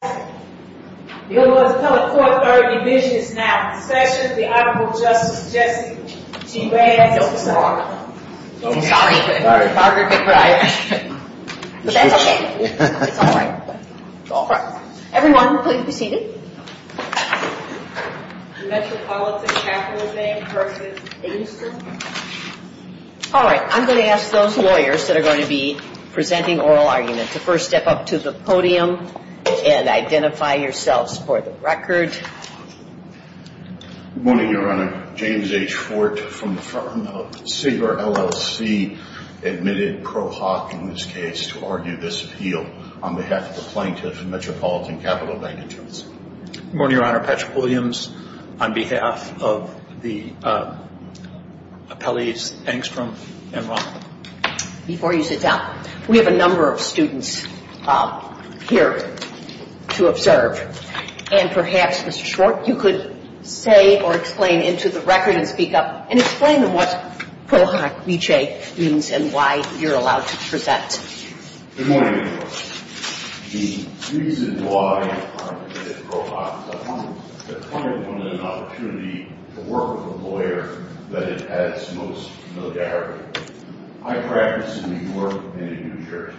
I'm going to ask those lawyers that are going to be presenting oral arguments to first step up to the podium and identify yourselves for the record. Good morning, Your Honor. James H. Fort from the firm of Sager LLC admitted pro hoc in this case to argue this appeal on behalf of the plaintiffs of Metropolitan Capital Bank & Trust. Good morning, Your Honor. Patrick Williams on behalf of the appellees Engstrom and Rothman. Before you sit down, we have a number of students here to observe. And perhaps, Mr. Schwartz, you could say or explain into the record and speak up and explain to them what pro hoc v. J means and why you're allowed to present. Good morning, Your Honor. The reason why I admitted pro hoc is I think that the plaintiff wanted an opportunity to work with a lawyer that had had its most military. I practice in New York and in New Jersey.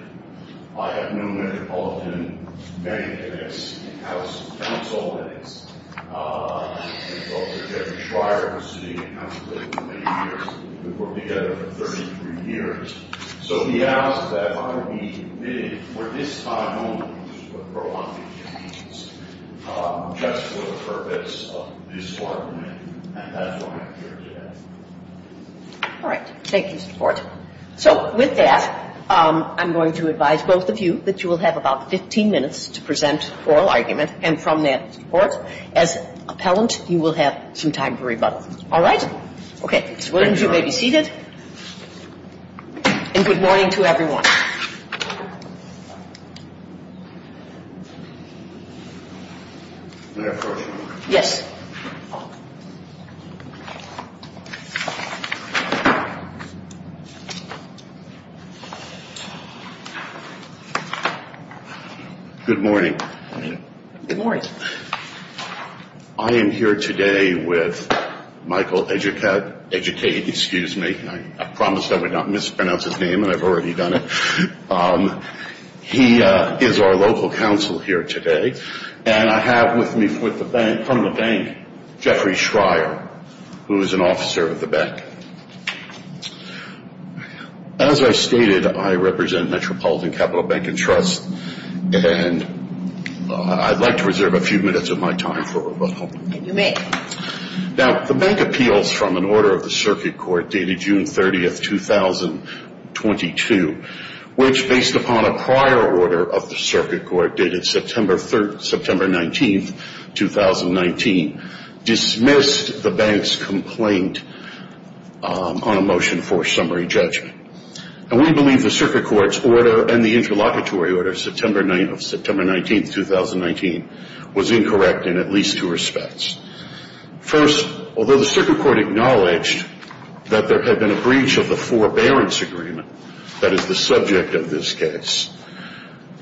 I have known Metropolitan many days, in house and council meetings. I've worked with Jeffrey Schreier, who's sitting in council with me, for many years. We've worked together for 33 years. So he asked that I be admitted for this time only, which is what pro hoc v. J means, just for the purpose of this argument. And that's why I'm here today. All right. Thank you, Mr. Schwartz. So with that, I'm going to advise both of you that you will have about 15 minutes to present oral argument. And from that, Mr. Schwartz, as appellant, you will have some time for rebuttal. All right? Okay. Mr. Williams, you may be seated. And good morning to everyone. May I approach you, Your Honor? Yes. Good morning. Good morning. I am here today with Michael Educate, excuse me. I promised I would not mispronounce his name, and I've already done it. He is our local counsel here today. And I have with me from the bank Jeffrey Schreier, who is an officer at the bank. As I stated, I represent Metropolitan Capital Bank and Trust, and I'd like to reserve a few minutes of my time for rebuttal. You may. Now, the bank appeals from an order of the circuit court dated June 30, 2022, which, based upon a prior order of the circuit court dated September 19, 2019, dismissed the bank's complaint on a motion for summary judgment. And we believe the circuit court's order and the interlocutory order of September 19, 2019, was incorrect in at least two respects. First, although the circuit court acknowledged that there had been a breach of the forbearance agreement that is the subject of this case,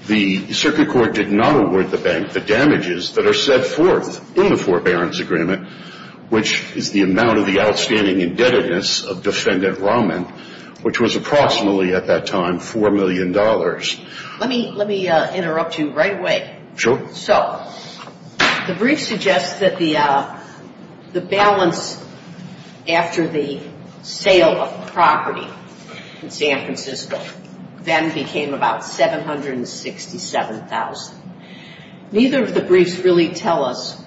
the circuit court did not award the bank the damages that are set forth in the forbearance agreement, which is the amount of the outstanding indebtedness of Defendant Rahman, which was approximately at that time $4 million. Let me interrupt you right away. Sure. So the brief suggests that the balance after the sale of property in San Francisco then became about $767,000. Neither of the briefs really tell us,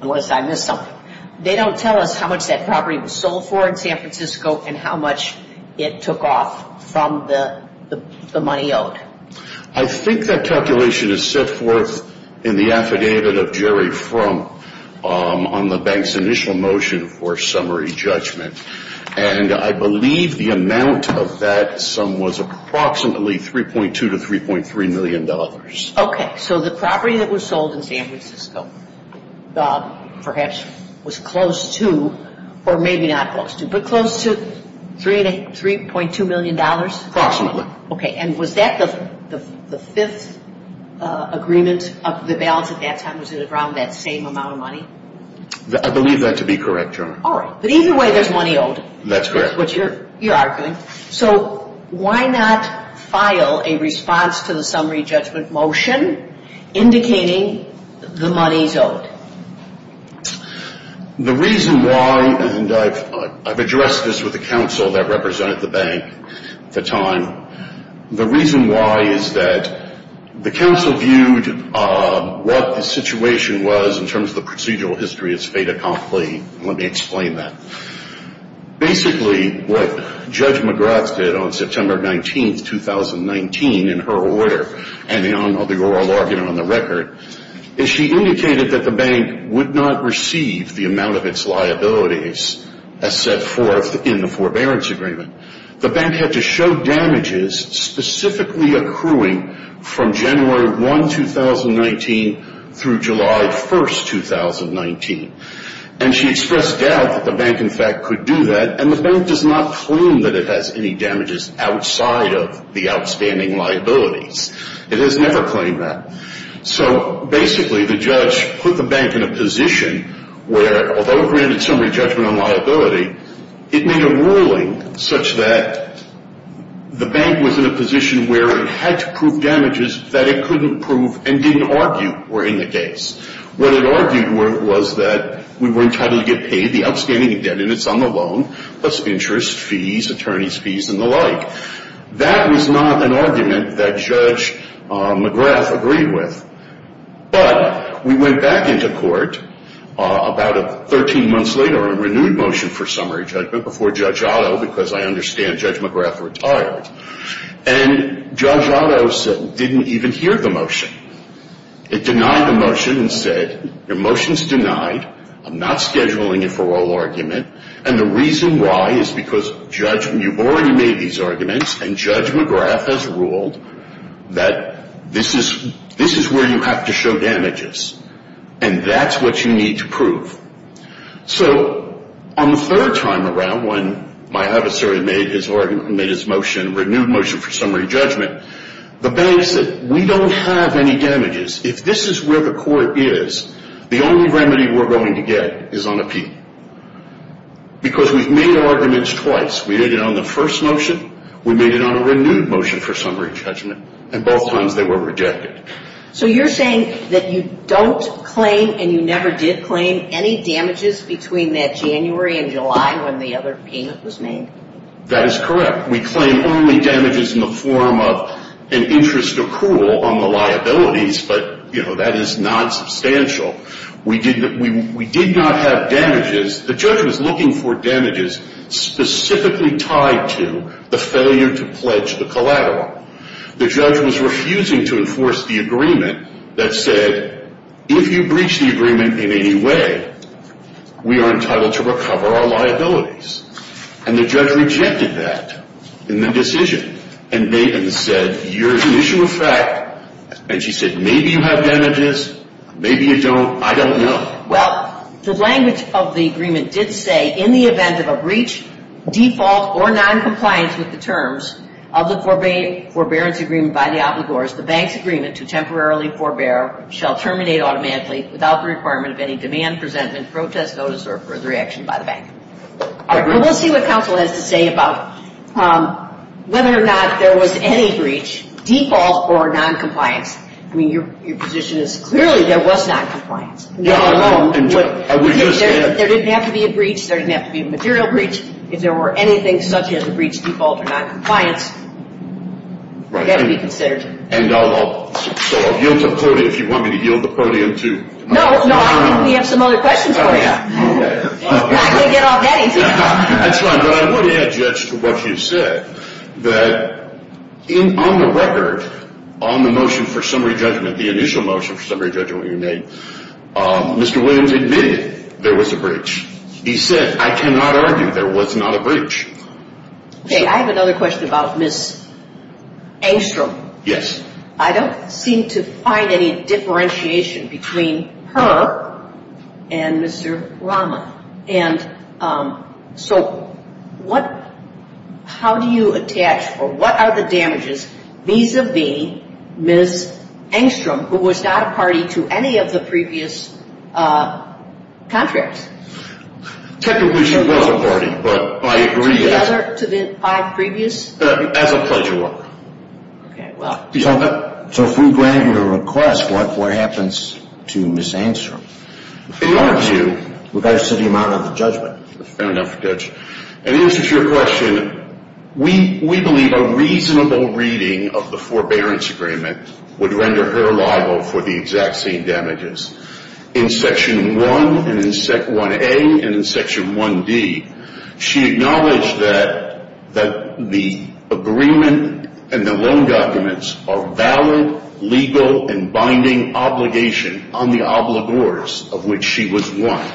unless I missed something, they don't tell us how much that property was sold for in San Francisco and how much it took off from the money owed. I think that calculation is set forth in the affidavit of Jerry Frum on the bank's initial motion for summary judgment. And I believe the amount of that sum was approximately $3.2 to $3.3 million. Okay. So the property that was sold in San Francisco perhaps was close to, or maybe not close to, but close to $3.2 million? Approximately. Okay. And was that the fifth agreement of the balance at that time? Was it around that same amount of money? I believe that to be correct, Your Honor. All right. But either way, there's money owed. That's correct. That's what you're arguing. So why not file a response to the summary judgment motion indicating the money is owed? The reason why, and I've addressed this with the counsel that represented the bank at the time, the reason why is that the counsel viewed what the situation was in terms of the procedural history as fait accompli. Let me explain that. Basically, what Judge McGrath did on September 19, 2019, in her order, and the oral argument on the record, is she indicated that the bank would not receive the amount of its liabilities as set forth in the forbearance agreement. The bank had to show damages specifically accruing from January 1, 2019, through July 1, 2019. And she expressed doubt that the bank, in fact, could do that, and the bank does not claim that it has any damages outside of the outstanding liabilities. It has never claimed that. So basically, the judge put the bank in a position where, although it granted summary judgment on liability, it made a ruling such that the bank was in a position where it had to prove damages that it couldn't prove and didn't argue were in the case. What it argued was that we were entitled to get paid the outstanding indebtedness on the loan, plus interest, fees, attorney's fees, and the like. That was not an argument that Judge McGrath agreed with. But we went back into court about 13 months later on a renewed motion for summary judgment before Judge Otto, because I understand Judge McGrath retired, and Judge Otto didn't even hear the motion. It denied the motion and said, your motion's denied. I'm not scheduling it for oral argument. And the reason why is because you've already made these arguments, and Judge McGrath has ruled that this is where you have to show damages, and that's what you need to prove. So on the third time around, when my adversary made his motion, renewed motion for summary judgment, the bank said, we don't have any damages. If this is where the court is, the only remedy we're going to get is on a P, because we've made arguments twice. We did it on the first motion. We made it on a renewed motion for summary judgment, and both times they were rejected. So you're saying that you don't claim, and you never did claim, any damages between that January and July when the other payment was made? That is correct. We claim only damages in the form of an interest accrual on the liabilities, but, you know, that is not substantial. We did not have damages. The judge was looking for damages specifically tied to the failure to pledge the collateral. The judge was refusing to enforce the agreement that said, if you breach the agreement in any way, we are entitled to recover our liabilities. And the judge rejected that in the decision. And Maven said, you're an issue of fact, and she said, maybe you have damages, maybe you don't, I don't know. Well, the language of the agreement did say, in the event of a breach, default, or noncompliance with the terms of the forbearance agreement by the obligors, the bank's agreement to temporarily forbear shall terminate automatically without the requirement of any demand, presentment, protest, notice, or further action by the bank. All right. Well, we'll see what counsel has to say about whether or not there was any breach, default, or noncompliance. I mean, your position is clearly there was noncompliance. I would just add. There didn't have to be a breach. There didn't have to be a material breach. If there were anything such as a breach, default, or noncompliance, it had to be considered. And I'll yield to the podium if you want me to yield the podium to. No, no. We have some other questions for you. I can't get off that easy. That's fine. But I would add, Judge, to what you said, that on the record, on the motion for summary judgment, the initial motion for summary judgment you made, Mr. Williams admitted there was a breach. He said, I cannot argue there was not a breach. Okay. I have another question about Ms. Engstrom. Yes. I don't seem to find any differentiation between her and Mr. Rama. And so how do you attach, or what are the damages vis-a-vis Ms. Engstrom, who was not a party to any of the previous contracts? Technically, she was a party, but I agree. To the other five previous? As a pleasure. Okay. So if we grant you a request, what happens to Ms. Engstrom? We've got to sit him out on the judgment. Fair enough, Judge. In answer to your question, we believe a reasonable reading of the forbearance agreement would render her liable for the exact same damages. In Section 1A and in Section 1D, she acknowledged that the agreement and the loan documents are valid, legal, and binding obligation on the obligors of which she was one.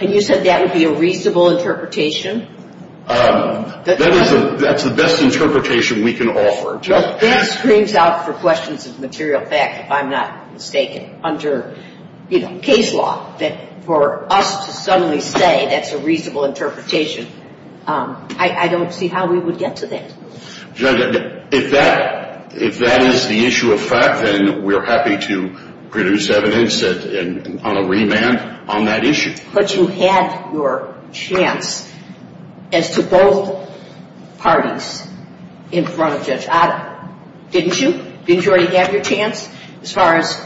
And you said that would be a reasonable interpretation? Well, that screams out for questions of material fact, if I'm not mistaken, under case law, that for us to suddenly say that's a reasonable interpretation, I don't see how we would get to that. Judge, if that is the issue of fact, then we're happy to produce evidence on a remand on that issue. But you had your chance as to both parties in front of Judge Otto, didn't you? Didn't you already have your chance as far as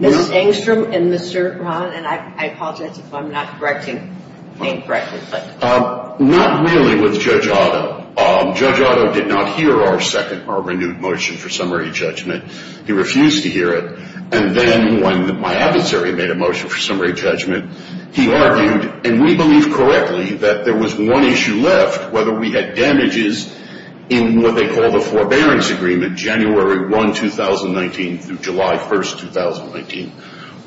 Ms. Engstrom and Mr. Rahn? And I apologize if I'm not saying correctly. Not really with Judge Otto. Judge Otto did not hear our second or renewed motion for summary judgment. He refused to hear it. And then when my adversary made a motion for summary judgment, he argued, and we believe correctly, that there was one issue left, whether we had damages in what they call the forbearance agreement, January 1, 2019, through July 1, 2019,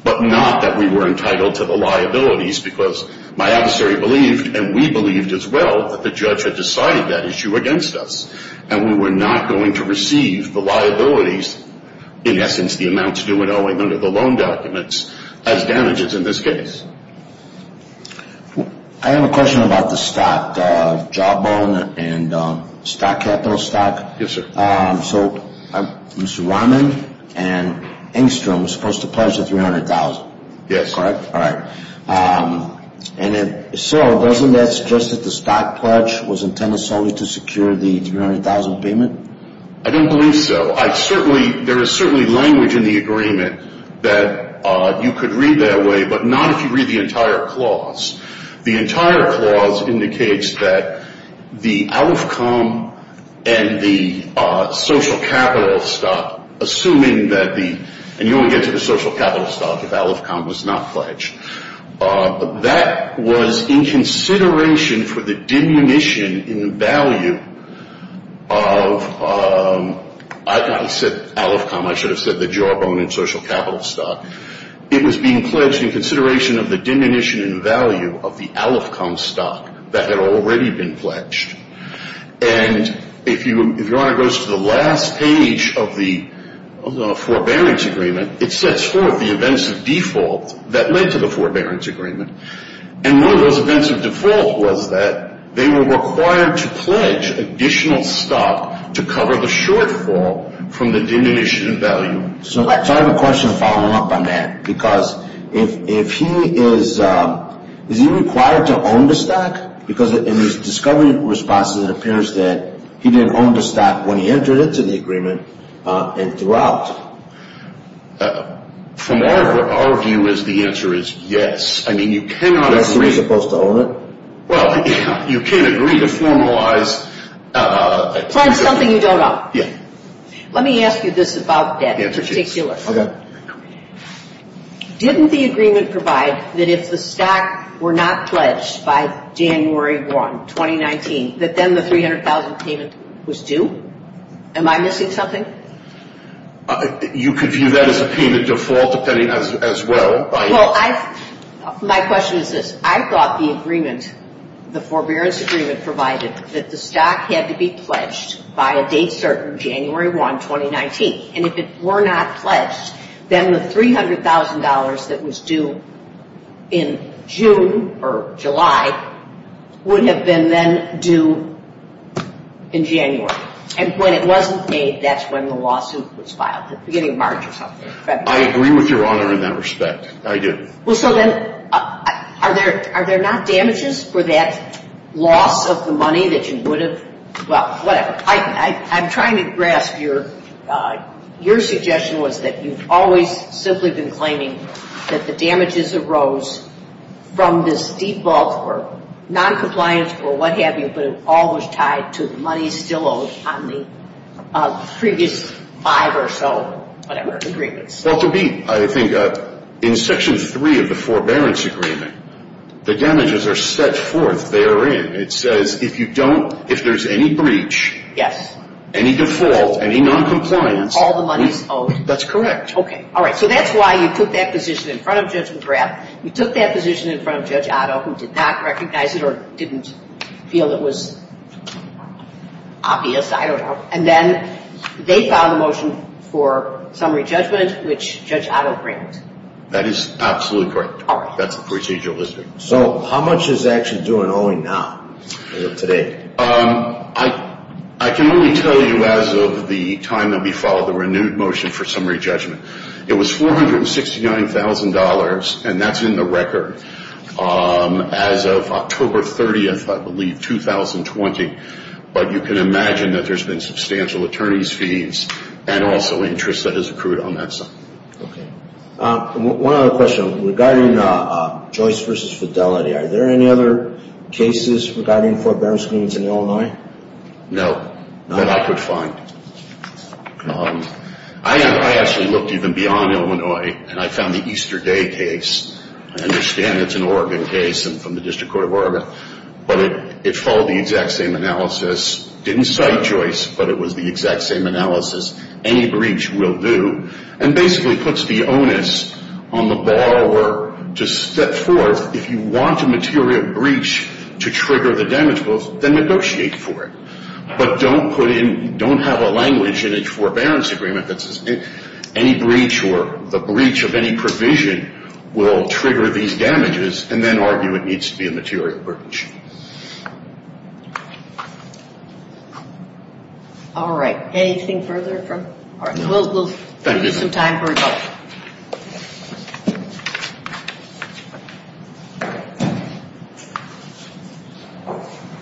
but not that we were entitled to the liabilities because my adversary believed and we believed as well that the judge had decided that issue against us and we were not going to receive the liabilities, in essence, the amounts due and owing under the loan documents as damages in this case. I have a question about the stock, Jawbone and stock capital stock. Yes, sir. So Mr. Rahn and Engstrom were supposed to pledge the $300,000, correct? Yes. All right. And so doesn't that suggest that the stock pledge was intended solely to secure the $300,000 payment? I don't believe so. I certainly – there is certainly language in the agreement that you could read that way, but not if you read the entire clause. The entire clause indicates that the ALFCOM and the social capital stock, assuming that the – and you only get to the social capital stock if ALFCOM was not pledged. That was in consideration for the diminution in value of – I said ALFCOM. I should have said the Jawbone and social capital stock. It was being pledged in consideration of the diminution in value of the ALFCOM stock that had already been pledged. And if Your Honor goes to the last page of the forbearance agreement, it sets forth the events of default that led to the forbearance agreement. And one of those events of default was that they were required to pledge additional stock to cover the shortfall from the diminution in value. So I have a question following up on that, because if he is – is he required to own the stock? Because in his discovery responses, it appears that he didn't own the stock when he entered into the agreement and throughout. From our view is the answer is yes. I mean, you cannot agree – Yes, so he's supposed to own it? Well, you can agree to formalize – Pledge something you don't own. Yeah. Let me ask you this about debt in particular. Okay. Didn't the agreement provide that if the stock were not pledged by January 1, 2019, that then the $300,000 payment was due? Am I missing something? You could view that as a payment default, depending as well. Well, I – my question is this. I thought the agreement, the forbearance agreement provided that the stock had to be pledged by a date certain, January 1, 2019. And if it were not pledged, then the $300,000 that was due in June or July would have been then due in January. And when it wasn't paid, that's when the lawsuit was filed, the beginning of March or something. I agree with Your Honor in that respect. I do. Well, so then are there not damages for that loss of the money that you would have – well, whatever. I'm trying to grasp your suggestion was that you've always simply been claiming that the damages arose from this default or noncompliance or what have you, but it all was tied to the money still owed on the previous five or so, whatever, agreements. Well, to be – I think in Section 3 of the forbearance agreement, the damages are set forth therein. It says if you don't – if there's any breach, any default, any noncompliance – All the money is owed. That's correct. Okay. All right. So that's why you took that position in front of Judge McGrath. You took that position in front of Judge Otto, who did not recognize it or didn't feel it was obvious. I don't know. And then they filed a motion for summary judgment, which Judge Otto granted. That is absolutely correct. All right. That's the procedure listed. So how much is actually due and owing now or today? I can only tell you as of the time that we followed the renewed motion for summary judgment. It was $469,000, and that's in the record as of October 30th, I believe, 2020. But you can imagine that there's been substantial attorney's fees and also interest that has accrued on that sum. Okay. One other question. Regarding Joyce v. Fidelity, are there any other cases regarding forbearance agreements in Illinois? No. No? That I could find. I actually looked even beyond Illinois, and I found the Easter Day case. I understand it's an Oregon case and from the District Court of Oregon. But it followed the exact same analysis. Didn't cite Joyce, but it was the exact same analysis. Any breach will do. And basically puts the onus on the borrower to step forth. If you want a material breach to trigger the damage, then negotiate for it. But don't have a language in a forbearance agreement that says any breach or the breach of any provision will trigger these damages and then argue it needs to be a material breach. All right. Anything further? All right. We'll give some time for rebuttal.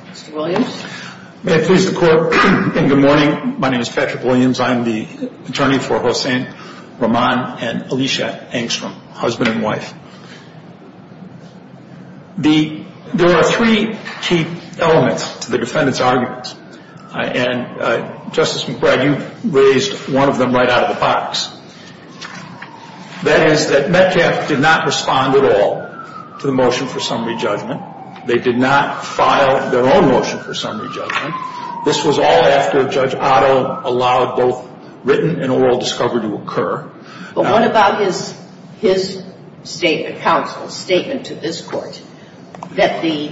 Mr. Williams? May it please the Court. Good morning. My name is Patrick Williams. I'm the attorney for Hossein Rahman and Alicia Angstrom, husband and wife. There are three key elements to the defendant's arguments. And, Justice McBride, you raised one of them right out of the box. That is that Metcalfe did not respond at all to the motion for summary judgment. They did not file their own motion for summary judgment. This was all after Judge Otto allowed both written and oral discovery to occur. But what about his statement, counsel's statement to this Court that the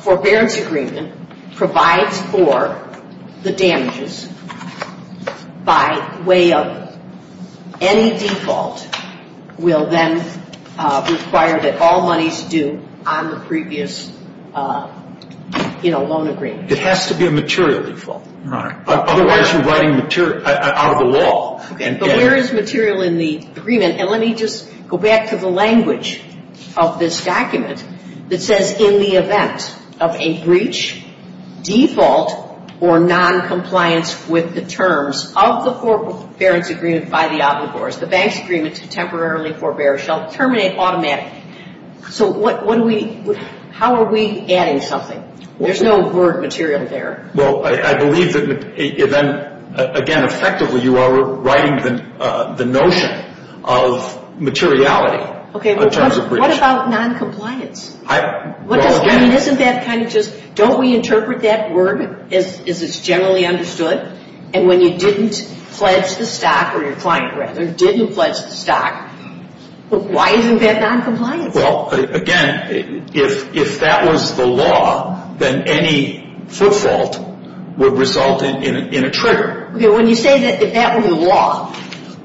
forbearance agreement provides for the damages by way of any default that will then require that all monies due on the previous, you know, loan agreement? It has to be a material default, Your Honor. Otherwise, you're writing material out of the wall. But where is material in the agreement? And let me just go back to the language of this document that says in the event of a breach, default, or noncompliance with the terms of the forbearance agreement by the obligors, the bank's agreement to temporarily forbear shall terminate automatically. So how are we adding something? There's no word material there. Well, I believe that, again, effectively you are writing the notion of materiality in terms of breach. Okay, but what about noncompliance? I mean, isn't that kind of just don't we interpret that word as it's generally understood? And when you didn't pledge the stock, or your client, rather, didn't pledge the stock, why isn't that noncompliance? Well, again, if that was the law, then any footfault would result in a trigger. Okay, when you say that that were the law,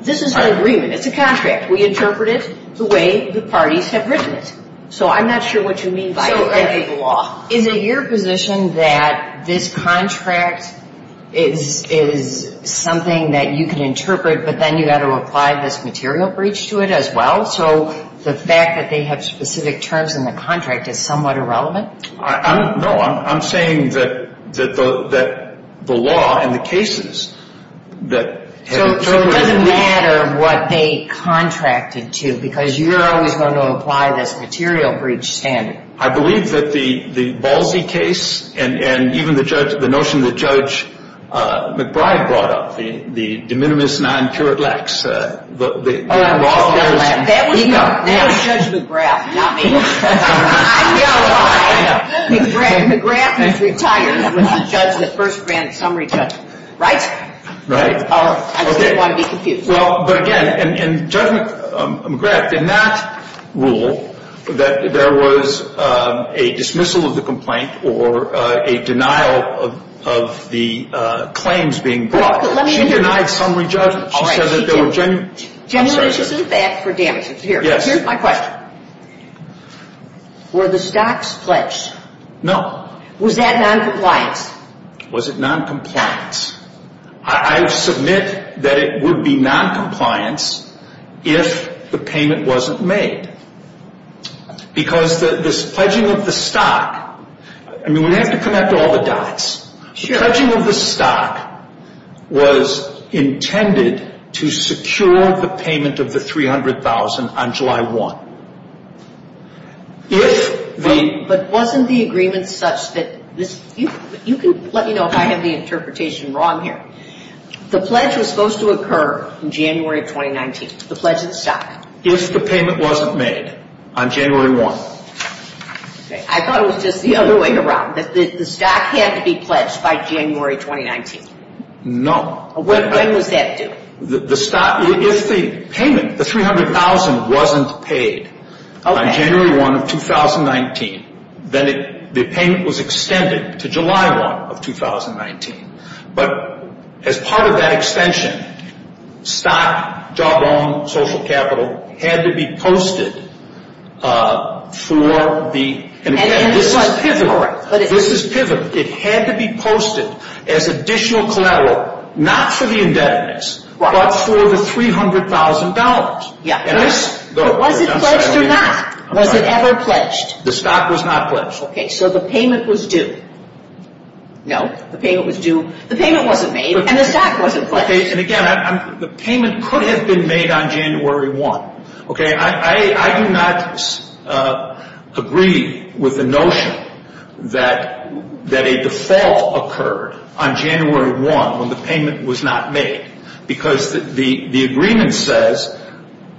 this is an agreement. It's a contract. We interpret it the way the parties have written it. So I'm not sure what you mean by it being the law. Is it your position that this contract is something that you can interpret, but then you've got to apply this material breach to it as well? So the fact that they have specific terms in the contract is somewhat irrelevant? No, I'm saying that the law and the cases that have interpreted it. So it doesn't matter what they contracted to, because you're always going to apply this material breach standard. I believe that the Ballsy case and even the notion that Judge McBride brought up, the de minimis non curat lax. That was Judge McGrath, not me. I know why. McGrath has retired. He was the first grand summary judge. Right? Right. I just didn't want to be confused. Well, but again, in Judge McGrath, in that rule, there was a dismissal of the complaint or a denial of the claims being brought. She denied summary judgment. She said that there were genuine. Genuinely, she didn't ask for damages. Here's my question. Were the stocks pledged? No. Was that noncompliance? Was it noncompliance? I submit that it would be noncompliance if the payment wasn't made. Because this pledging of the stock, I mean, we have to connect all the dots. The pledging of the stock was intended to secure the payment of the $300,000 on July 1. But wasn't the agreement such that you can let me know if I have the interpretation wrong here. The pledge was supposed to occur in January 2019, the pledge of the stock. If the payment wasn't made on January 1. I thought it was just the other way around. The stock had to be pledged by January 2019. No. When was that due? If the payment, the $300,000 wasn't paid on January 1 of 2019, then the payment was extended to July 1 of 2019. But as part of that extension, stock, job loan, social capital had to be posted for the. This is pivotal. This is pivotal. It had to be posted as additional collateral, not for the indebtedness, but for the $300,000. Was it pledged or not? Was it ever pledged? The stock was not pledged. Okay, so the payment was due. No, the payment was due. The payment wasn't made and the stock wasn't pledged. And again, the payment could have been made on January 1. Okay, I do not agree with the notion that a default occurred on January 1 when the payment was not made. Because the agreement says,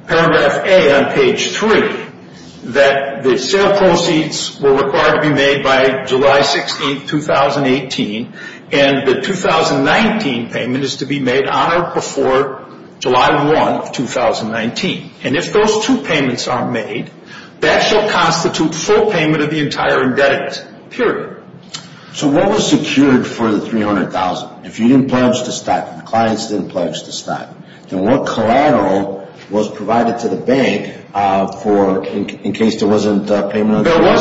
paragraph A on page 3, that the sale proceeds were required to be made by July 16, 2018. And the 2019 payment is to be made on or before July 1 of 2019. And if those two payments aren't made, that shall constitute full payment of the entire indebtedness, period. So what was secured for the $300,000? If you didn't pledge to stock, the clients didn't pledge to stock, then what collateral was provided to the bank in case there wasn't payment on July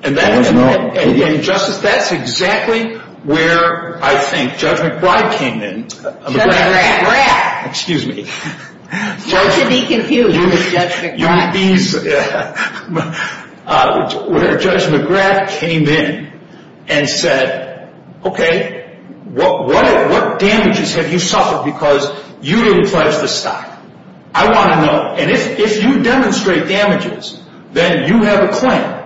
1? There wasn't. And Justice, that's exactly where I think Judge McBride came in. Judge McBride. Excuse me. Don't you be confused with Judge McBride. Where Judge McBride came in and said, okay, what damages have you suffered because you didn't pledge to stock? I want to know. And if you demonstrate damages, then you have a claim.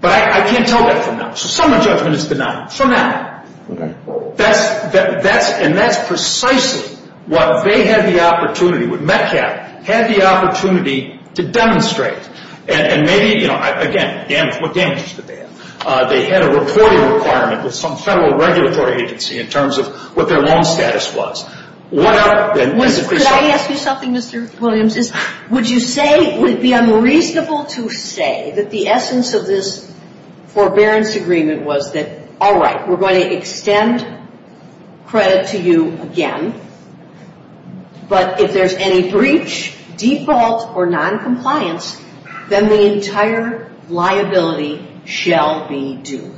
But I can't tell that from now. So some of the judgment is denied from now. Okay. And that's precisely what they had the opportunity, what Metcalfe had the opportunity to demonstrate. And maybe, you know, again, what damages did they have? They had a reporting requirement with some federal regulatory agency in terms of what their loan status was. Could I ask you something, Mr. Williams? Would you say it would be unreasonable to say that the essence of this forbearance agreement was that, all right, we're going to extend credit to you again. But if there's any breach, default, or noncompliance, then the entire liability shall be due.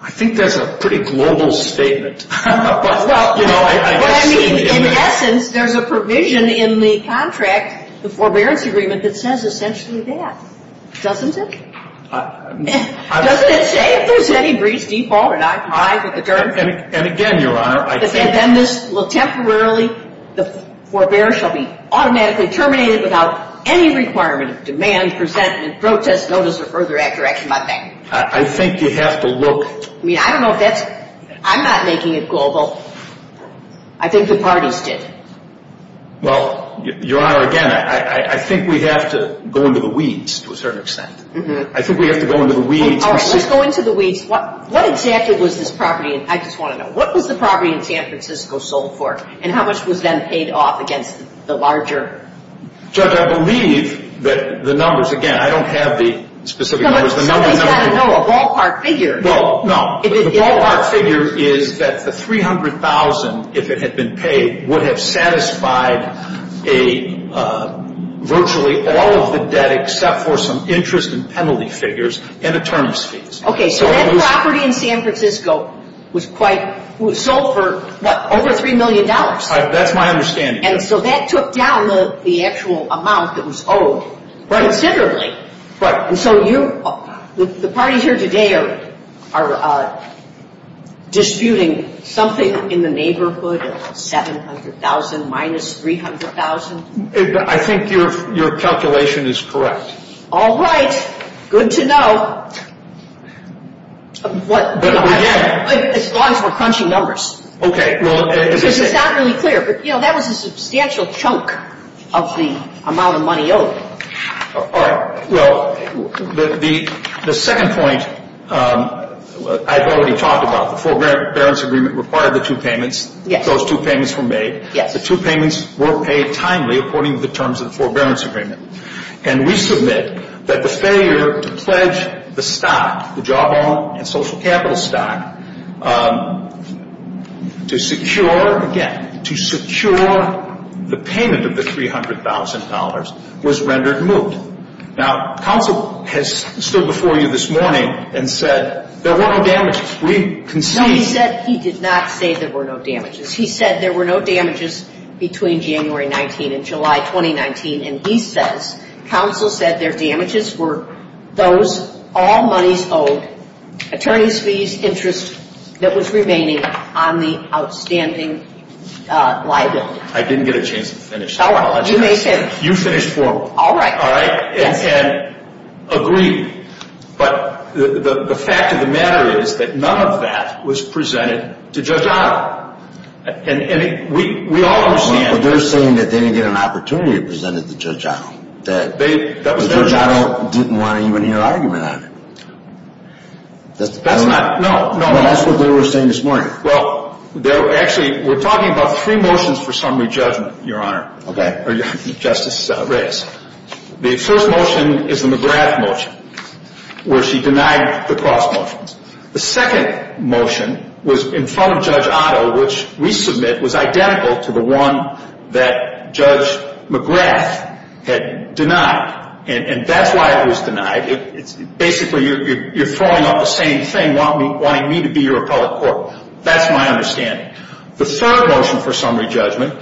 I think that's a pretty global statement. Well, I mean, in essence, there's a provision in the contract, the forbearance agreement, that says essentially that. Doesn't it? Doesn't it say if there's any breach, default, or noncompliance with the terms? And again, Your Honor, I think that this will temporarily, the forbearance shall be automatically terminated without any requirement of demand, presentment, protest, notice, or further action, I think. I think you have to look. I mean, I don't know if that's, I'm not making it global. I think the parties did. Well, Your Honor, again, I think we have to go into the weeds to a certain extent. I think we have to go into the weeds. All right, let's just go into the weeds. What exactly was this property in, I just want to know, what was the property in San Francisco sold for? And how much was then paid off against the larger? Judge, I believe that the numbers, again, I don't have the specific numbers. Somebody's got to know, a ballpark figure. No, no. The ballpark figure is that the $300,000, if it had been paid, would have satisfied virtually all of the debt except for some interest and penalty figures and attorney's fees. Okay, so that property in San Francisco was quite, was sold for, what, over $3 million? That's my understanding. And so that took down the actual amount that was owed considerably. Right. And so you, the parties here today are disputing something in the neighborhood of $700,000 minus $300,000? I think your calculation is correct. All right. Good to know. But again. As long as we're crunching numbers. Okay, well. Because it's not really clear, but, you know, that was a substantial chunk of the amount of money owed. All right. Well, the second point I've already talked about, the forbearance agreement required the two payments. Yes. Those two payments were made. Yes. The two payments were paid timely according to the terms of the forbearance agreement. And we submit that the failure to pledge the stock, the Jawbone and Social Capital stock, to secure, again, to secure the payment of the $300,000 was rendered moot. Now, counsel has stood before you this morning and said there were no damages. We concede. No, he said, he did not say there were no damages. He said there were no damages between January 19 and July 2019. And he says counsel said their damages were those all monies owed, attorney's fees, interest that was remaining on the outstanding liability. I didn't get a chance to finish. All right. You may finish. You finish formal. All right. All right? Yes. And agree. But the fact of the matter is that none of that was presented to Judge Otto. And we all understand. But they're saying that they didn't get an opportunity to present it to Judge Otto. That Judge Otto didn't want to even hear an argument on it. That's not, no, no. That's what they were saying this morning. Well, actually, we're talking about three motions for summary judgment, Your Honor. Okay. Justice Reyes. The first motion is the McGrath motion, where she denied the cross motions. The second motion was in front of Judge Otto, which we submit was identical to the one that Judge McGrath had denied. And that's why it was denied. Basically, you're throwing out the same thing, wanting me to be your appellate court. That's my understanding. The third motion for summary judgment,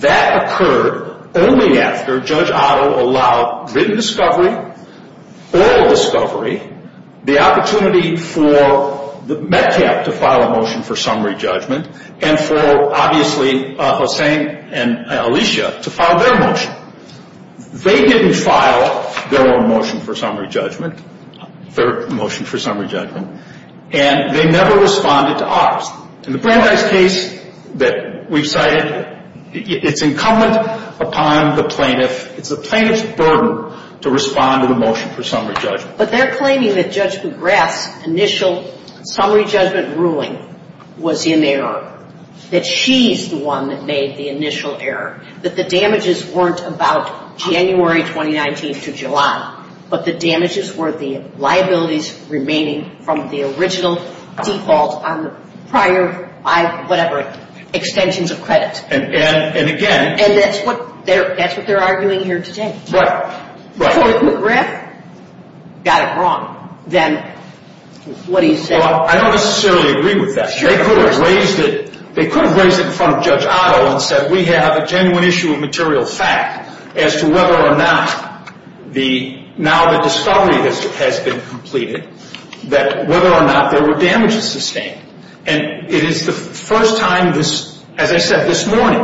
that occurred only after Judge Otto allowed written discovery, oral discovery, the opportunity for the METCAP to file a motion for summary judgment, and for, obviously, Hossain and Alicia to file their motion. They didn't file their own motion for summary judgment, their motion for summary judgment, and they never responded to ours. In the Brandeis case that we've cited, it's incumbent upon the plaintiff, it's the plaintiff's burden to respond to the motion for summary judgment. But they're claiming that Judge McGrath's initial summary judgment ruling was in error, that she's the one that made the initial error, that the damages weren't about January 2019 to July, but the damages were the liabilities remaining from the original default on the prior, whatever, extensions of credit. And again. And that's what they're arguing here today. Right. If McGrath got it wrong, then what do you say? Well, I don't necessarily agree with that. They could have raised it in front of Judge Otto and said, we have a genuine issue of material fact as to whether or not the, now the discovery has been completed, that whether or not there were damages sustained. And it is the first time this, as I said this morning,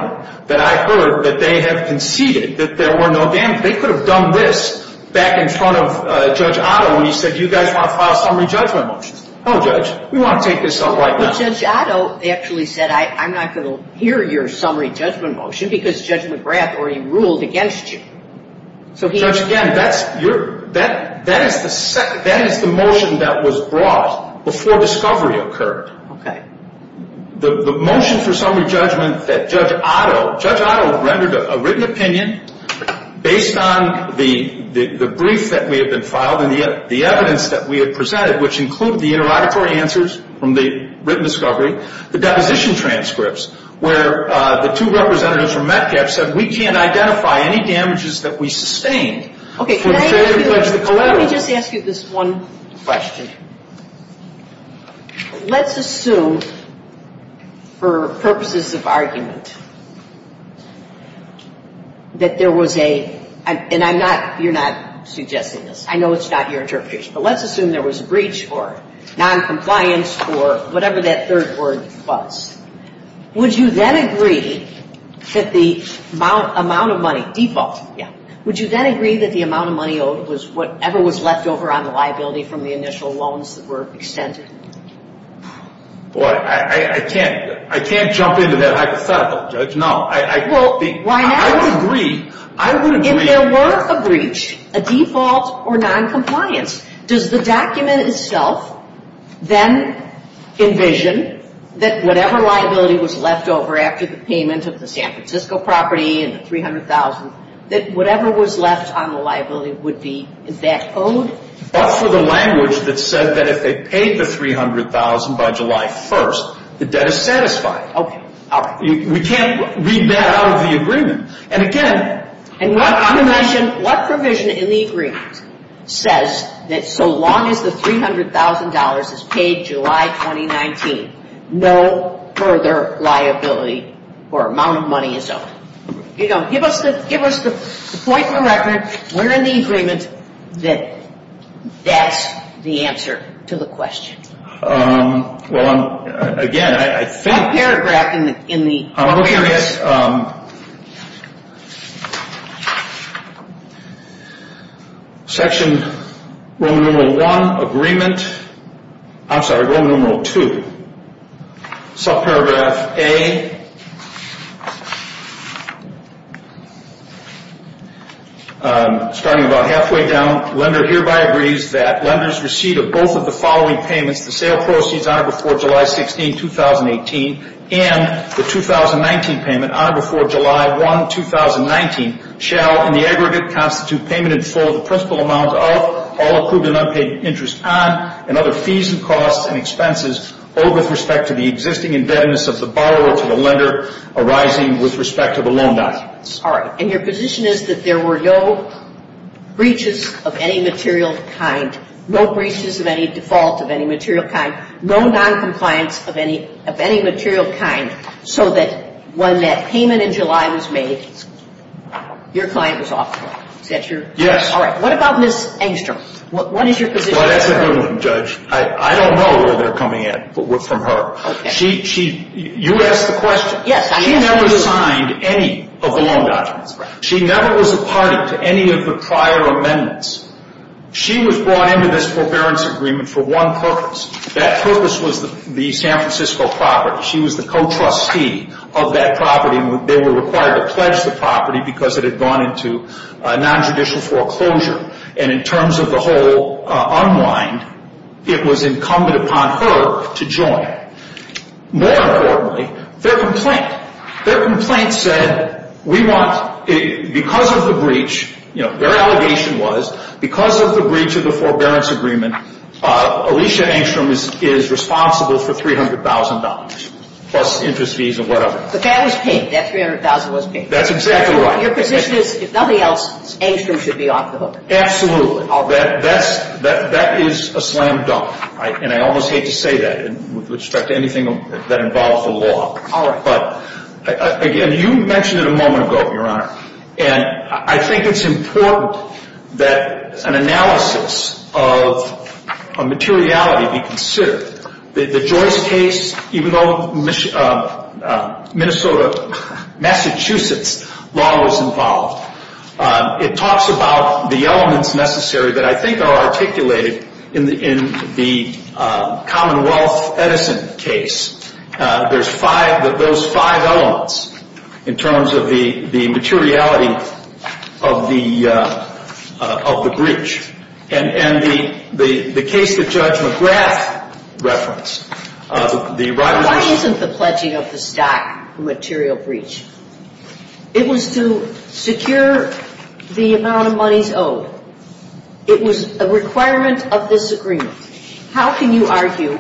that I heard that they have conceded that there were no damages. And they could have done this back in front of Judge Otto when he said, you guys want to file summary judgment motions. Oh, Judge, we want to take this up right now. But Judge Otto actually said, I'm not going to hear your summary judgment motion, because Judge McGrath already ruled against you. Judge, again, that is the motion that was brought before discovery occurred. Okay. The motion for summary judgment that Judge Otto, Judge Otto rendered a written opinion based on the brief that may have been filed and the evidence that we had presented, which included the interrogatory answers from the written discovery, the deposition transcripts where the two representatives from Metcalfe said, we can't identify any damages that we sustained. Okay. Let me just ask you this one question. Let's assume for purposes of argument that there was a, and I'm not, you're not suggesting this. I know it's not your interpretation. But let's assume there was a breach or noncompliance or whatever that third word was. Would you then agree that the amount of money, default, yeah, Would you then agree that the amount of money owed was whatever was left over on the liability from the initial loans that were extended? Well, I can't jump into that hypothetical, Judge. No. Well, I would agree. I would agree. If there were a breach, a default or noncompliance, does the document itself then envision that whatever liability was left over after the payment of the San Francisco property and the $300,000, that whatever was left on the liability would be that owed? But for the language that said that if they paid the $300,000 by July 1st, the debt is satisfied. Okay. We can't read that out of the agreement. And again, And what provision in the agreement says that so long as the $300,000 is paid July 2019, no further liability or amount of money is owed? Give us the point of the record. We're in the agreement that that's the answer to the question. Well, again, I think One paragraph in the agreement Section Roman numeral 1 agreement. I'm sorry, Roman numeral 2. Subparagraph A. Starting about halfway down, lender hereby agrees that lenders receive both of the following payments, the sale proceeds on or before July 16, 2018, and the 2019 payment on or before July 1, 2019, shall in the aggregate constitute payment in full of the principal amount of all approved and unpaid interest on and other fees and costs and expenses owed with respect to the existing indebtedness of the borrower to the lender arising with respect to the loan documents. All right. And your position is that there were no breaches of any material kind, no breaches of any default of any material kind, no noncompliance of any material kind, so that when that payment in July was made, your client was off the book. Is that your? Yes. All right. What about Ms. Engstrom? What is your position? Well, that's a good one, Judge. I don't know where they're coming at from her. You asked the question. Yes. She never signed any of the loan documents. She never was a party to any of the prior amendments. She was brought into this forbearance agreement for one purpose. That purpose was the San Francisco property. She was the co-trustee of that property, and they were required to pledge the property because it had gone into nonjudicial foreclosure. And in terms of the whole unwind, it was incumbent upon her to join. More importantly, their complaint, their complaint said we want, because of the breach, you know, their allegation was because of the breach of the forbearance agreement, Alicia Engstrom is responsible for $300,000 plus interest fees and whatever. But that was paid. That $300,000 was paid. That's exactly right. Your position is if nothing else, Engstrom should be off the hook. Absolutely. That is a slam dunk, and I almost hate to say that with respect to anything that involves the law. All right. But, again, you mentioned it a moment ago, Your Honor, and I think it's important that an analysis of materiality be considered. The Joyce case, even though Minnesota, Massachusetts law was involved, it talks about the elements necessary that I think are articulated in the Commonwealth Edison case. There's five of those five elements in terms of the materiality of the breach. And the case that Judge McGrath referenced, the right of the stock. Why isn't the pledging of the stock a material breach? It was to secure the amount of monies owed. It was a requirement of this agreement. How can you argue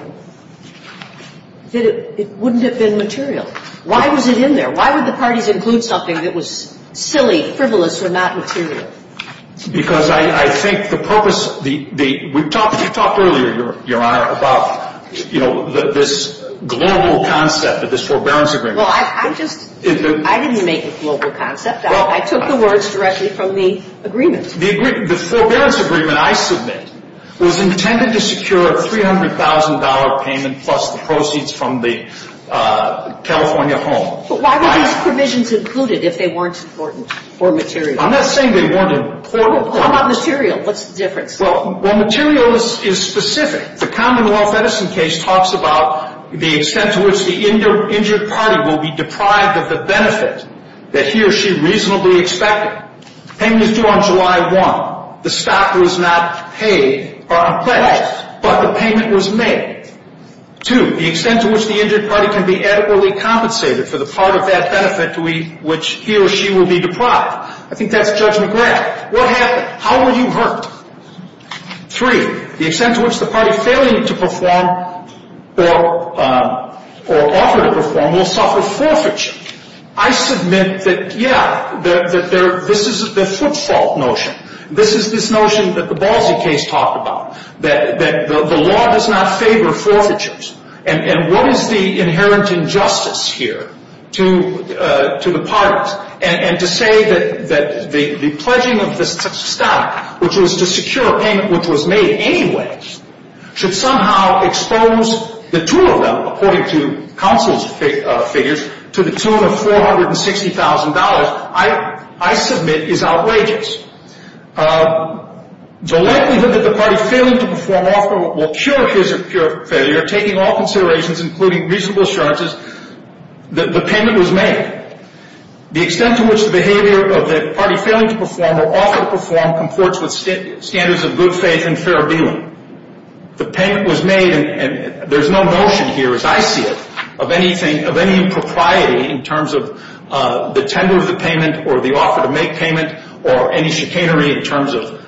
that it wouldn't have been material? Why was it in there? Why would the parties include something that was silly, frivolous, or not material? Because I think the purpose of the – we talked earlier, Your Honor, about, you know, this global concept of this forbearance agreement. Well, I'm just – I didn't make the global concept. I took the words directly from the agreement. The forbearance agreement, I submit, was intended to secure a $300,000 payment plus the proceeds from the California home. But why were these provisions included if they weren't important or material? I'm not saying they weren't important. How about material? What's the difference? Well, material is specific. The Commonwealth Edison case talks about the extent to which the injured party will be deprived of the benefit that he or she reasonably expected. Payment is due on July 1. The stock was not paid or unpledged, but the payment was made. Two, the extent to which the injured party can be adequately compensated for the part of that benefit to which he or she will be deprived. I think that's Judge McGrath. What happened? How were you hurt? Three, the extent to which the party failing to perform or offered to perform will suffer forfeiture. I submit that, yeah, this is the footfault notion. This is this notion that the Balzi case talked about, that the law does not favor forfeitures. And what is the inherent injustice here to the parties? And to say that the pledging of the stock, which was to secure a payment which was made anyway, should somehow expose the two of them, according to counsel's figures, to the tune of $460,000, I submit is outrageous. The likelihood that the party failing to perform or offer will cure his or her failure, taking all considerations, including reasonable assurances, that the payment was made. The extent to which the behavior of the party failing to perform or offered to perform comports with standards of good faith and fair dealing. The payment was made, and there's no notion here, as I see it, of anything, of any impropriety in terms of the tender of the payment or the offer to make payment or any chicanery in terms of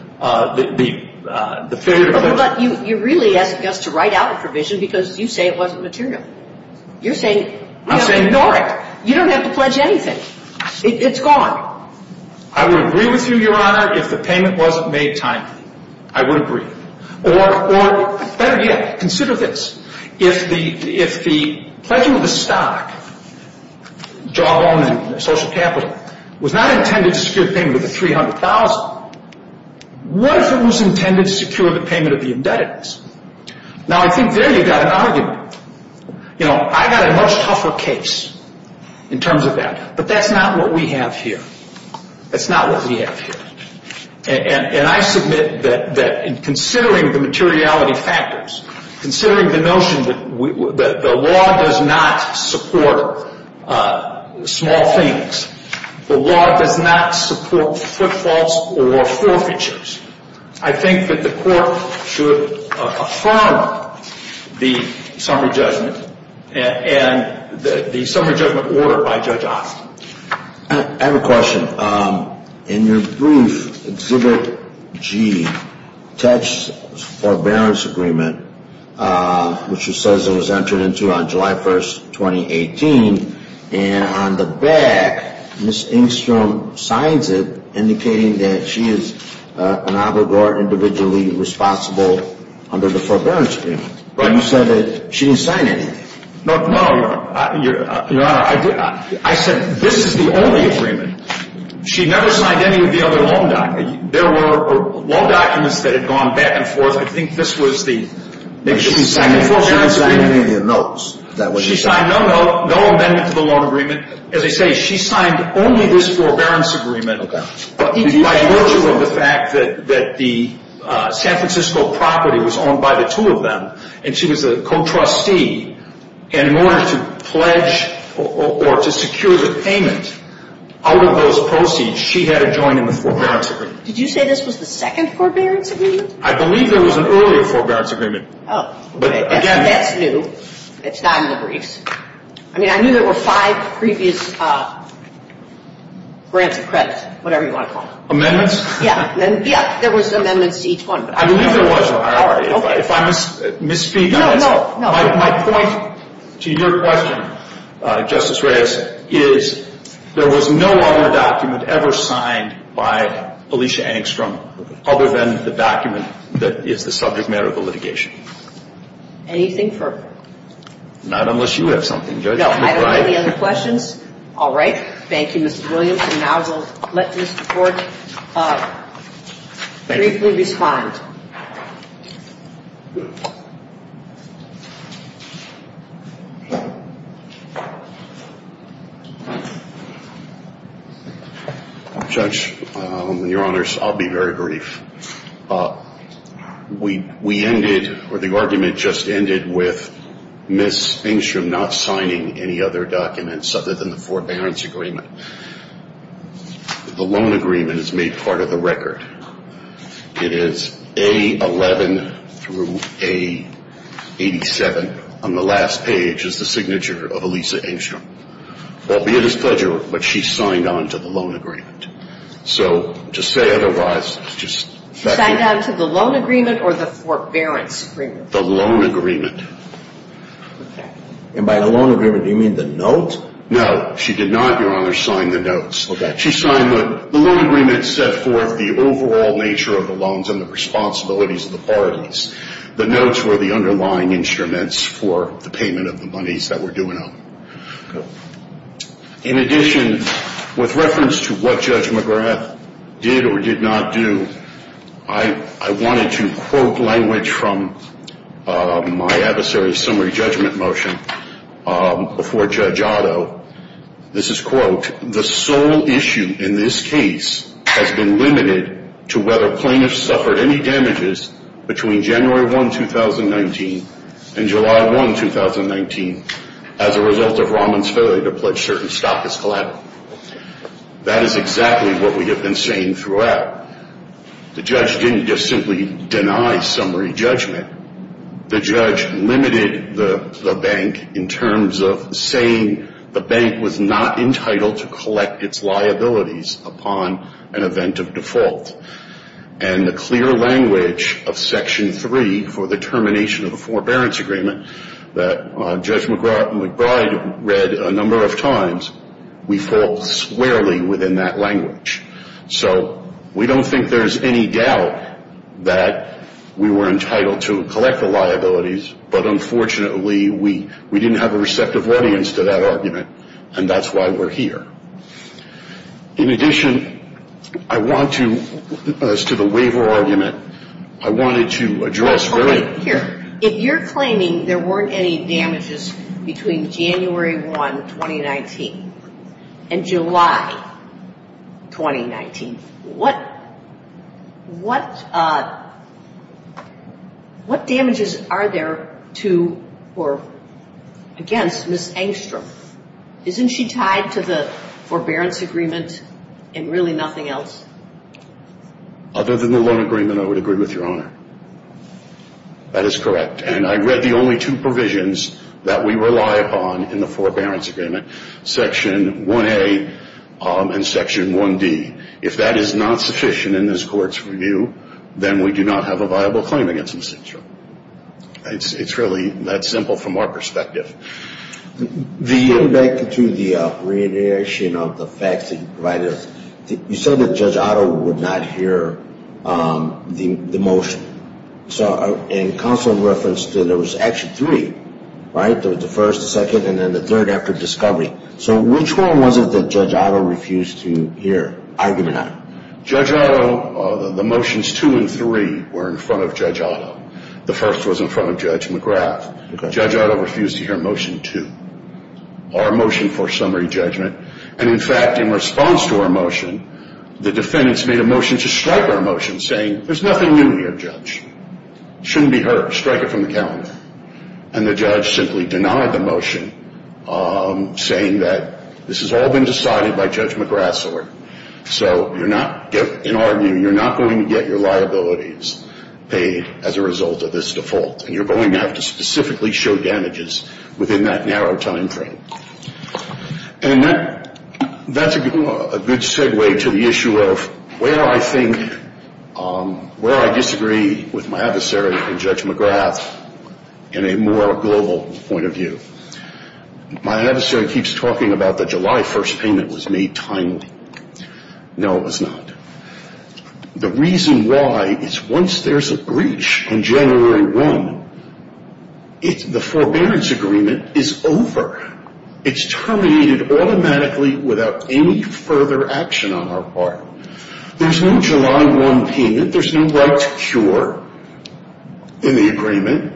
the failure to perform. But you're really asking us to write out a provision because you say it wasn't material. You're saying we have to ignore it. You don't have to pledge anything. It's gone. I would agree with you, Your Honor, if the payment wasn't made timely. I would agree. Or, better yet, consider this. If the pledging of the stock, jawbone and social capital, was not intended to secure payment of the $300,000, what if it was intended to secure the payment of the indebtedness? Now, I think there you've got an argument. You know, I've got a much tougher case in terms of that. But that's not what we have here. That's not what we have here. And I submit that in considering the materiality factors, considering the notion that the law does not support small things, the law does not support footfalls or forfeitures, I think that the court should affirm the summary judgment and the summary judgment order by Judge Austin. I have a question. In your brief, Exhibit G, attached forbearance agreement, which it says it was entered into on July 1st, 2018. And on the back, Ms. Engstrom signs it indicating that she is an obligor individually responsible under the forbearance agreement. But you said that she didn't sign anything. Your Honor, I said this is the only agreement. She never signed any of the other loan documents. There were loan documents that had gone back and forth. I think this was the second forbearance agreement. She didn't sign any of your notes. She signed no note, no amendment to the loan agreement. As I say, she signed only this forbearance agreement. Okay. By virtue of the fact that the San Francisco property was owned by the two of them, and she was a co-trustee, and in order to pledge or to secure the payment out of those proceeds, she had to join in the forbearance agreement. Did you say this was the second forbearance agreement? I believe there was an earlier forbearance agreement. Oh, okay. That's new. It's not in the briefs. I mean, I knew there were five previous grants of credit, whatever you want to call them. Amendments? Yeah. Yeah, there was amendments to each one. I believe there was, Your Honor. All right. If I misspeak on that, my point to your question, Justice Reyes, is there was no other document ever signed by Alicia Angstrom other than the document that is the subject matter of the litigation. Anything further? Not unless you have something, Judge. No, I don't have any other questions. All right. Thank you, Mr. Williams. And now we'll let Mr. Bork briefly respond. Judge, Your Honors, I'll be very brief. We ended, or the argument just ended with Ms. Angstrom not signing any other documents other than the forbearance agreement. The loan agreement is made part of the record. It is A11 through A87 on the last page is the signature of Alicia Angstrom. Albeit it's pleasure, but she signed on to the loan agreement. So just say otherwise. She signed on to the loan agreement or the forbearance agreement? The loan agreement. Okay. And by the loan agreement, do you mean the note? No, she did not, Your Honor, sign the notes. Okay. The loan agreement set forth the overall nature of the loans and the responsibilities of the parties. The notes were the underlying instruments for the payment of the monies that were due in them. Okay. In addition, with reference to what Judge McGrath did or did not do, I wanted to quote language from my adversary's summary judgment motion before Judge Otto. This is, quote, the sole issue in this case has been limited to whether plaintiffs suffered any damages between January 1, 2019, and July 1, 2019, as a result of Rahman's failure to pledge certain stock as collateral. That is exactly what we have been saying throughout. The judge didn't just simply deny summary judgment. The judge limited the bank in terms of saying the bank was not entitled to collect its liabilities upon an event of default. And the clear language of Section 3 for the termination of the forbearance agreement that Judge McBride read a number of times, we fall squarely within that language. So we don't think there's any doubt that we were entitled to collect the liabilities, but unfortunately we didn't have a receptive audience to that argument, and that's why we're here. In addition, I want to, as to the waiver argument, I wanted to address very— What damages are there to or against Ms. Engstrom? Isn't she tied to the forbearance agreement and really nothing else? Other than the loan agreement, I would agree with Your Honor. That is correct. And I read the only two provisions that we rely upon in the forbearance agreement, Section 1A and Section 1D. If that is not sufficient in this Court's review, then we do not have a viable claim against Ms. Engstrom. It's really that simple from our perspective. Going back to the reiteration of the facts that you provided us, you said that Judge Otto would not hear the motion. So in counsel reference, there was actually three, right? There was the first, the second, and then the third after discovery. So which one was it that Judge Otto refused to hear argument on? Judge Otto, the motions two and three were in front of Judge Otto. The first was in front of Judge McGrath. Judge Otto refused to hear motion two, our motion for summary judgment. And, in fact, in response to our motion, the defendants made a motion to strike our motion, saying there's nothing new here, Judge. It shouldn't be heard. Strike it from the calendar. And the judge simply denied the motion, saying that this has all been decided by Judge McGrath's order. So you're not going to get your liabilities paid as a result of this default. And you're going to have to specifically show damages within that narrow time frame. And that's a good segue to the issue of where I think, where I disagree with my adversary and Judge McGrath in a more global point of view. My adversary keeps talking about the July 1st payment was made timely. No, it was not. The reason why is once there's a breach in January 1, the forbearance agreement is over. It's terminated automatically without any further action on our part. There's no July 1 payment. There's no right to cure in the agreement.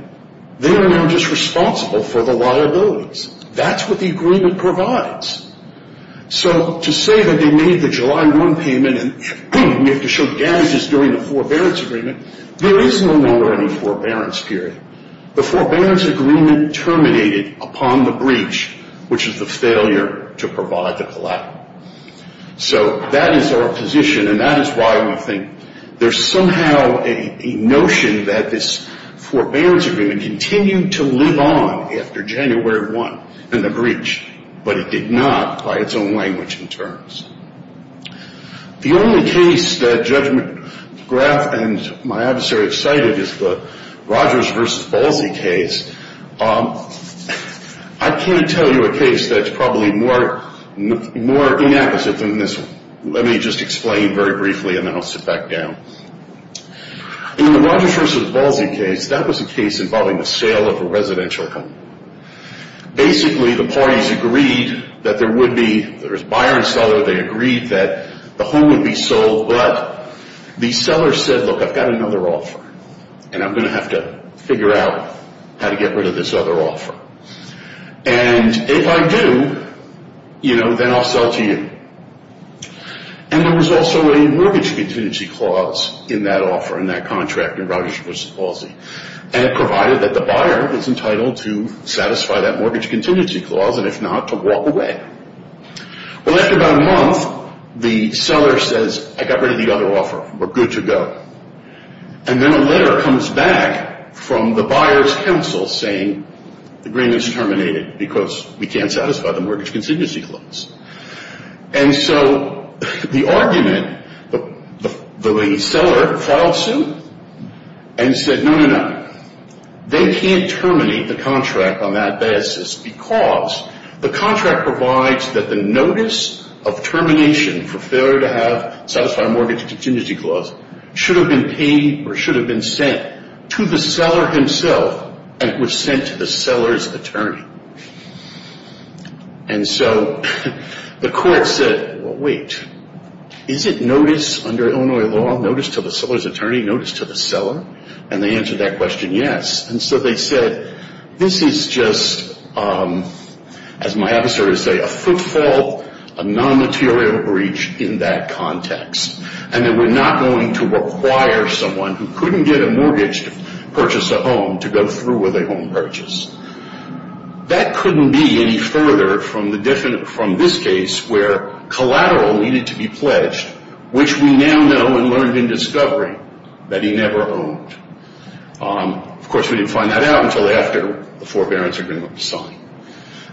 They are now just responsible for the liabilities. That's what the agreement provides. So to say that they made the July 1 payment and we have to show damages during the forbearance agreement, there is no longer any forbearance period. The forbearance agreement terminated upon the breach, which is the failure to provide the collateral. So that is our position, and that is why I think there's somehow a notion that this forbearance agreement may continue to live on after January 1 and the breach, but it did not by its own language and terms. The only case that Judge McGrath and my adversary have cited is the Rogers v. Balzi case. I can't tell you a case that's probably more inapposite than this one. Let me just explain very briefly, and then I'll sit back down. In the Rogers v. Balzi case, that was a case involving the sale of a residential home. Basically, the parties agreed that there would be a buyer and seller. They agreed that the home would be sold, but the seller said, look, I've got another offer, and I'm going to have to figure out how to get rid of this other offer. And if I do, you know, then I'll sell to you. And there was also a mortgage contingency clause in that offer, in that contract in Rogers v. Balzi, and it provided that the buyer was entitled to satisfy that mortgage contingency clause, and if not, to walk away. Well, after about a month, the seller says, I got rid of the other offer. We're good to go. And then a letter comes back from the buyer's counsel saying the agreement's terminated because we can't satisfy the mortgage contingency clause. And so the argument, the seller filed suit and said, no, no, no. They can't terminate the contract on that basis because the contract provides that the notice of termination for failure to satisfy a mortgage contingency clause should have been paid or should have been sent to the seller himself, and it was sent to the seller's attorney. And so the court said, well, wait. Is it notice under Illinois law, notice to the seller's attorney, notice to the seller? And they answered that question, yes. And so they said, this is just, as my officer would say, a footfall, a non-material breach in that context, and that we're not going to require someone who couldn't get a mortgage to purchase a home to go through with a home purchase. That couldn't be any further from this case where collateral needed to be pledged, which we now know and learned in discovery that he never owned. Of course, we didn't find that out until after the forbearance agreement was signed.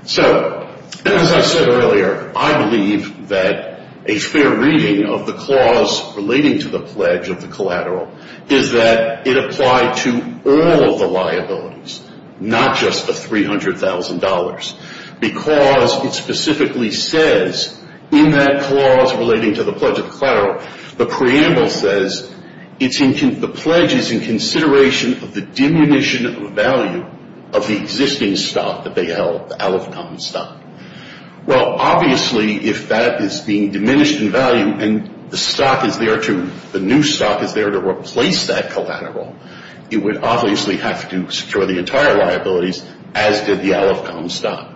So as I said earlier, I believe that a fair reading of the clause relating to the pledge of the collateral is that it applied to all of the liabilities, not just the $300,000, because it specifically says in that clause relating to the pledge of the collateral, the preamble says the pledge is in consideration of the diminution of value of the existing stock that they held, the out-of-common stock. Well, obviously, if that is being diminished in value and the stock is there to, the new stock is there to replace that collateral, it would obviously have to secure the entire liabilities, as did the out-of-common stock.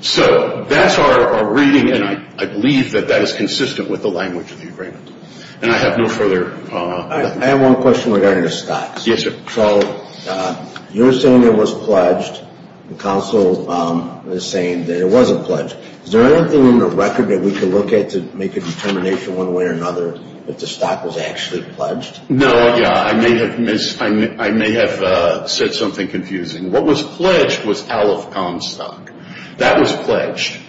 So that's our reading, and I believe that that is consistent with the language of the agreement. And I have no further... I have one question regarding the stocks. Yes, sir. So you're saying it was pledged. The counsel is saying that it wasn't pledged. Is there anything in the record that we can look at to make a determination one way or another if the stock was actually pledged? No, yeah. I may have said something confusing. What was pledged was out-of-common stock. That was pledged,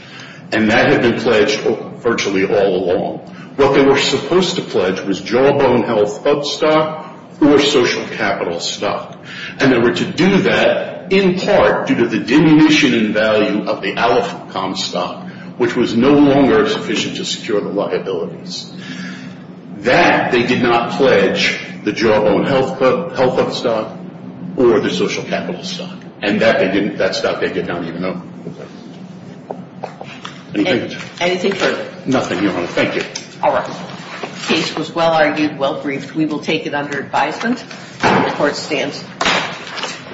and that had been pledged virtually all along. What they were supposed to pledge was jawbone health up stock or social capital stock, and they were to do that in part due to the diminution in value of the out-of-common stock, which was no longer sufficient to secure the liabilities. That they did not pledge the jawbone health up stock or the social capital stock, and that stock they did not even know. Okay. Anything? Anything further? Nothing, Your Honor. Thank you. All right. The case was well-argued, well-briefed. We will take it under advisement. The court stands.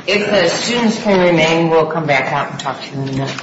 If the students can remain, we'll come back out and talk to them again.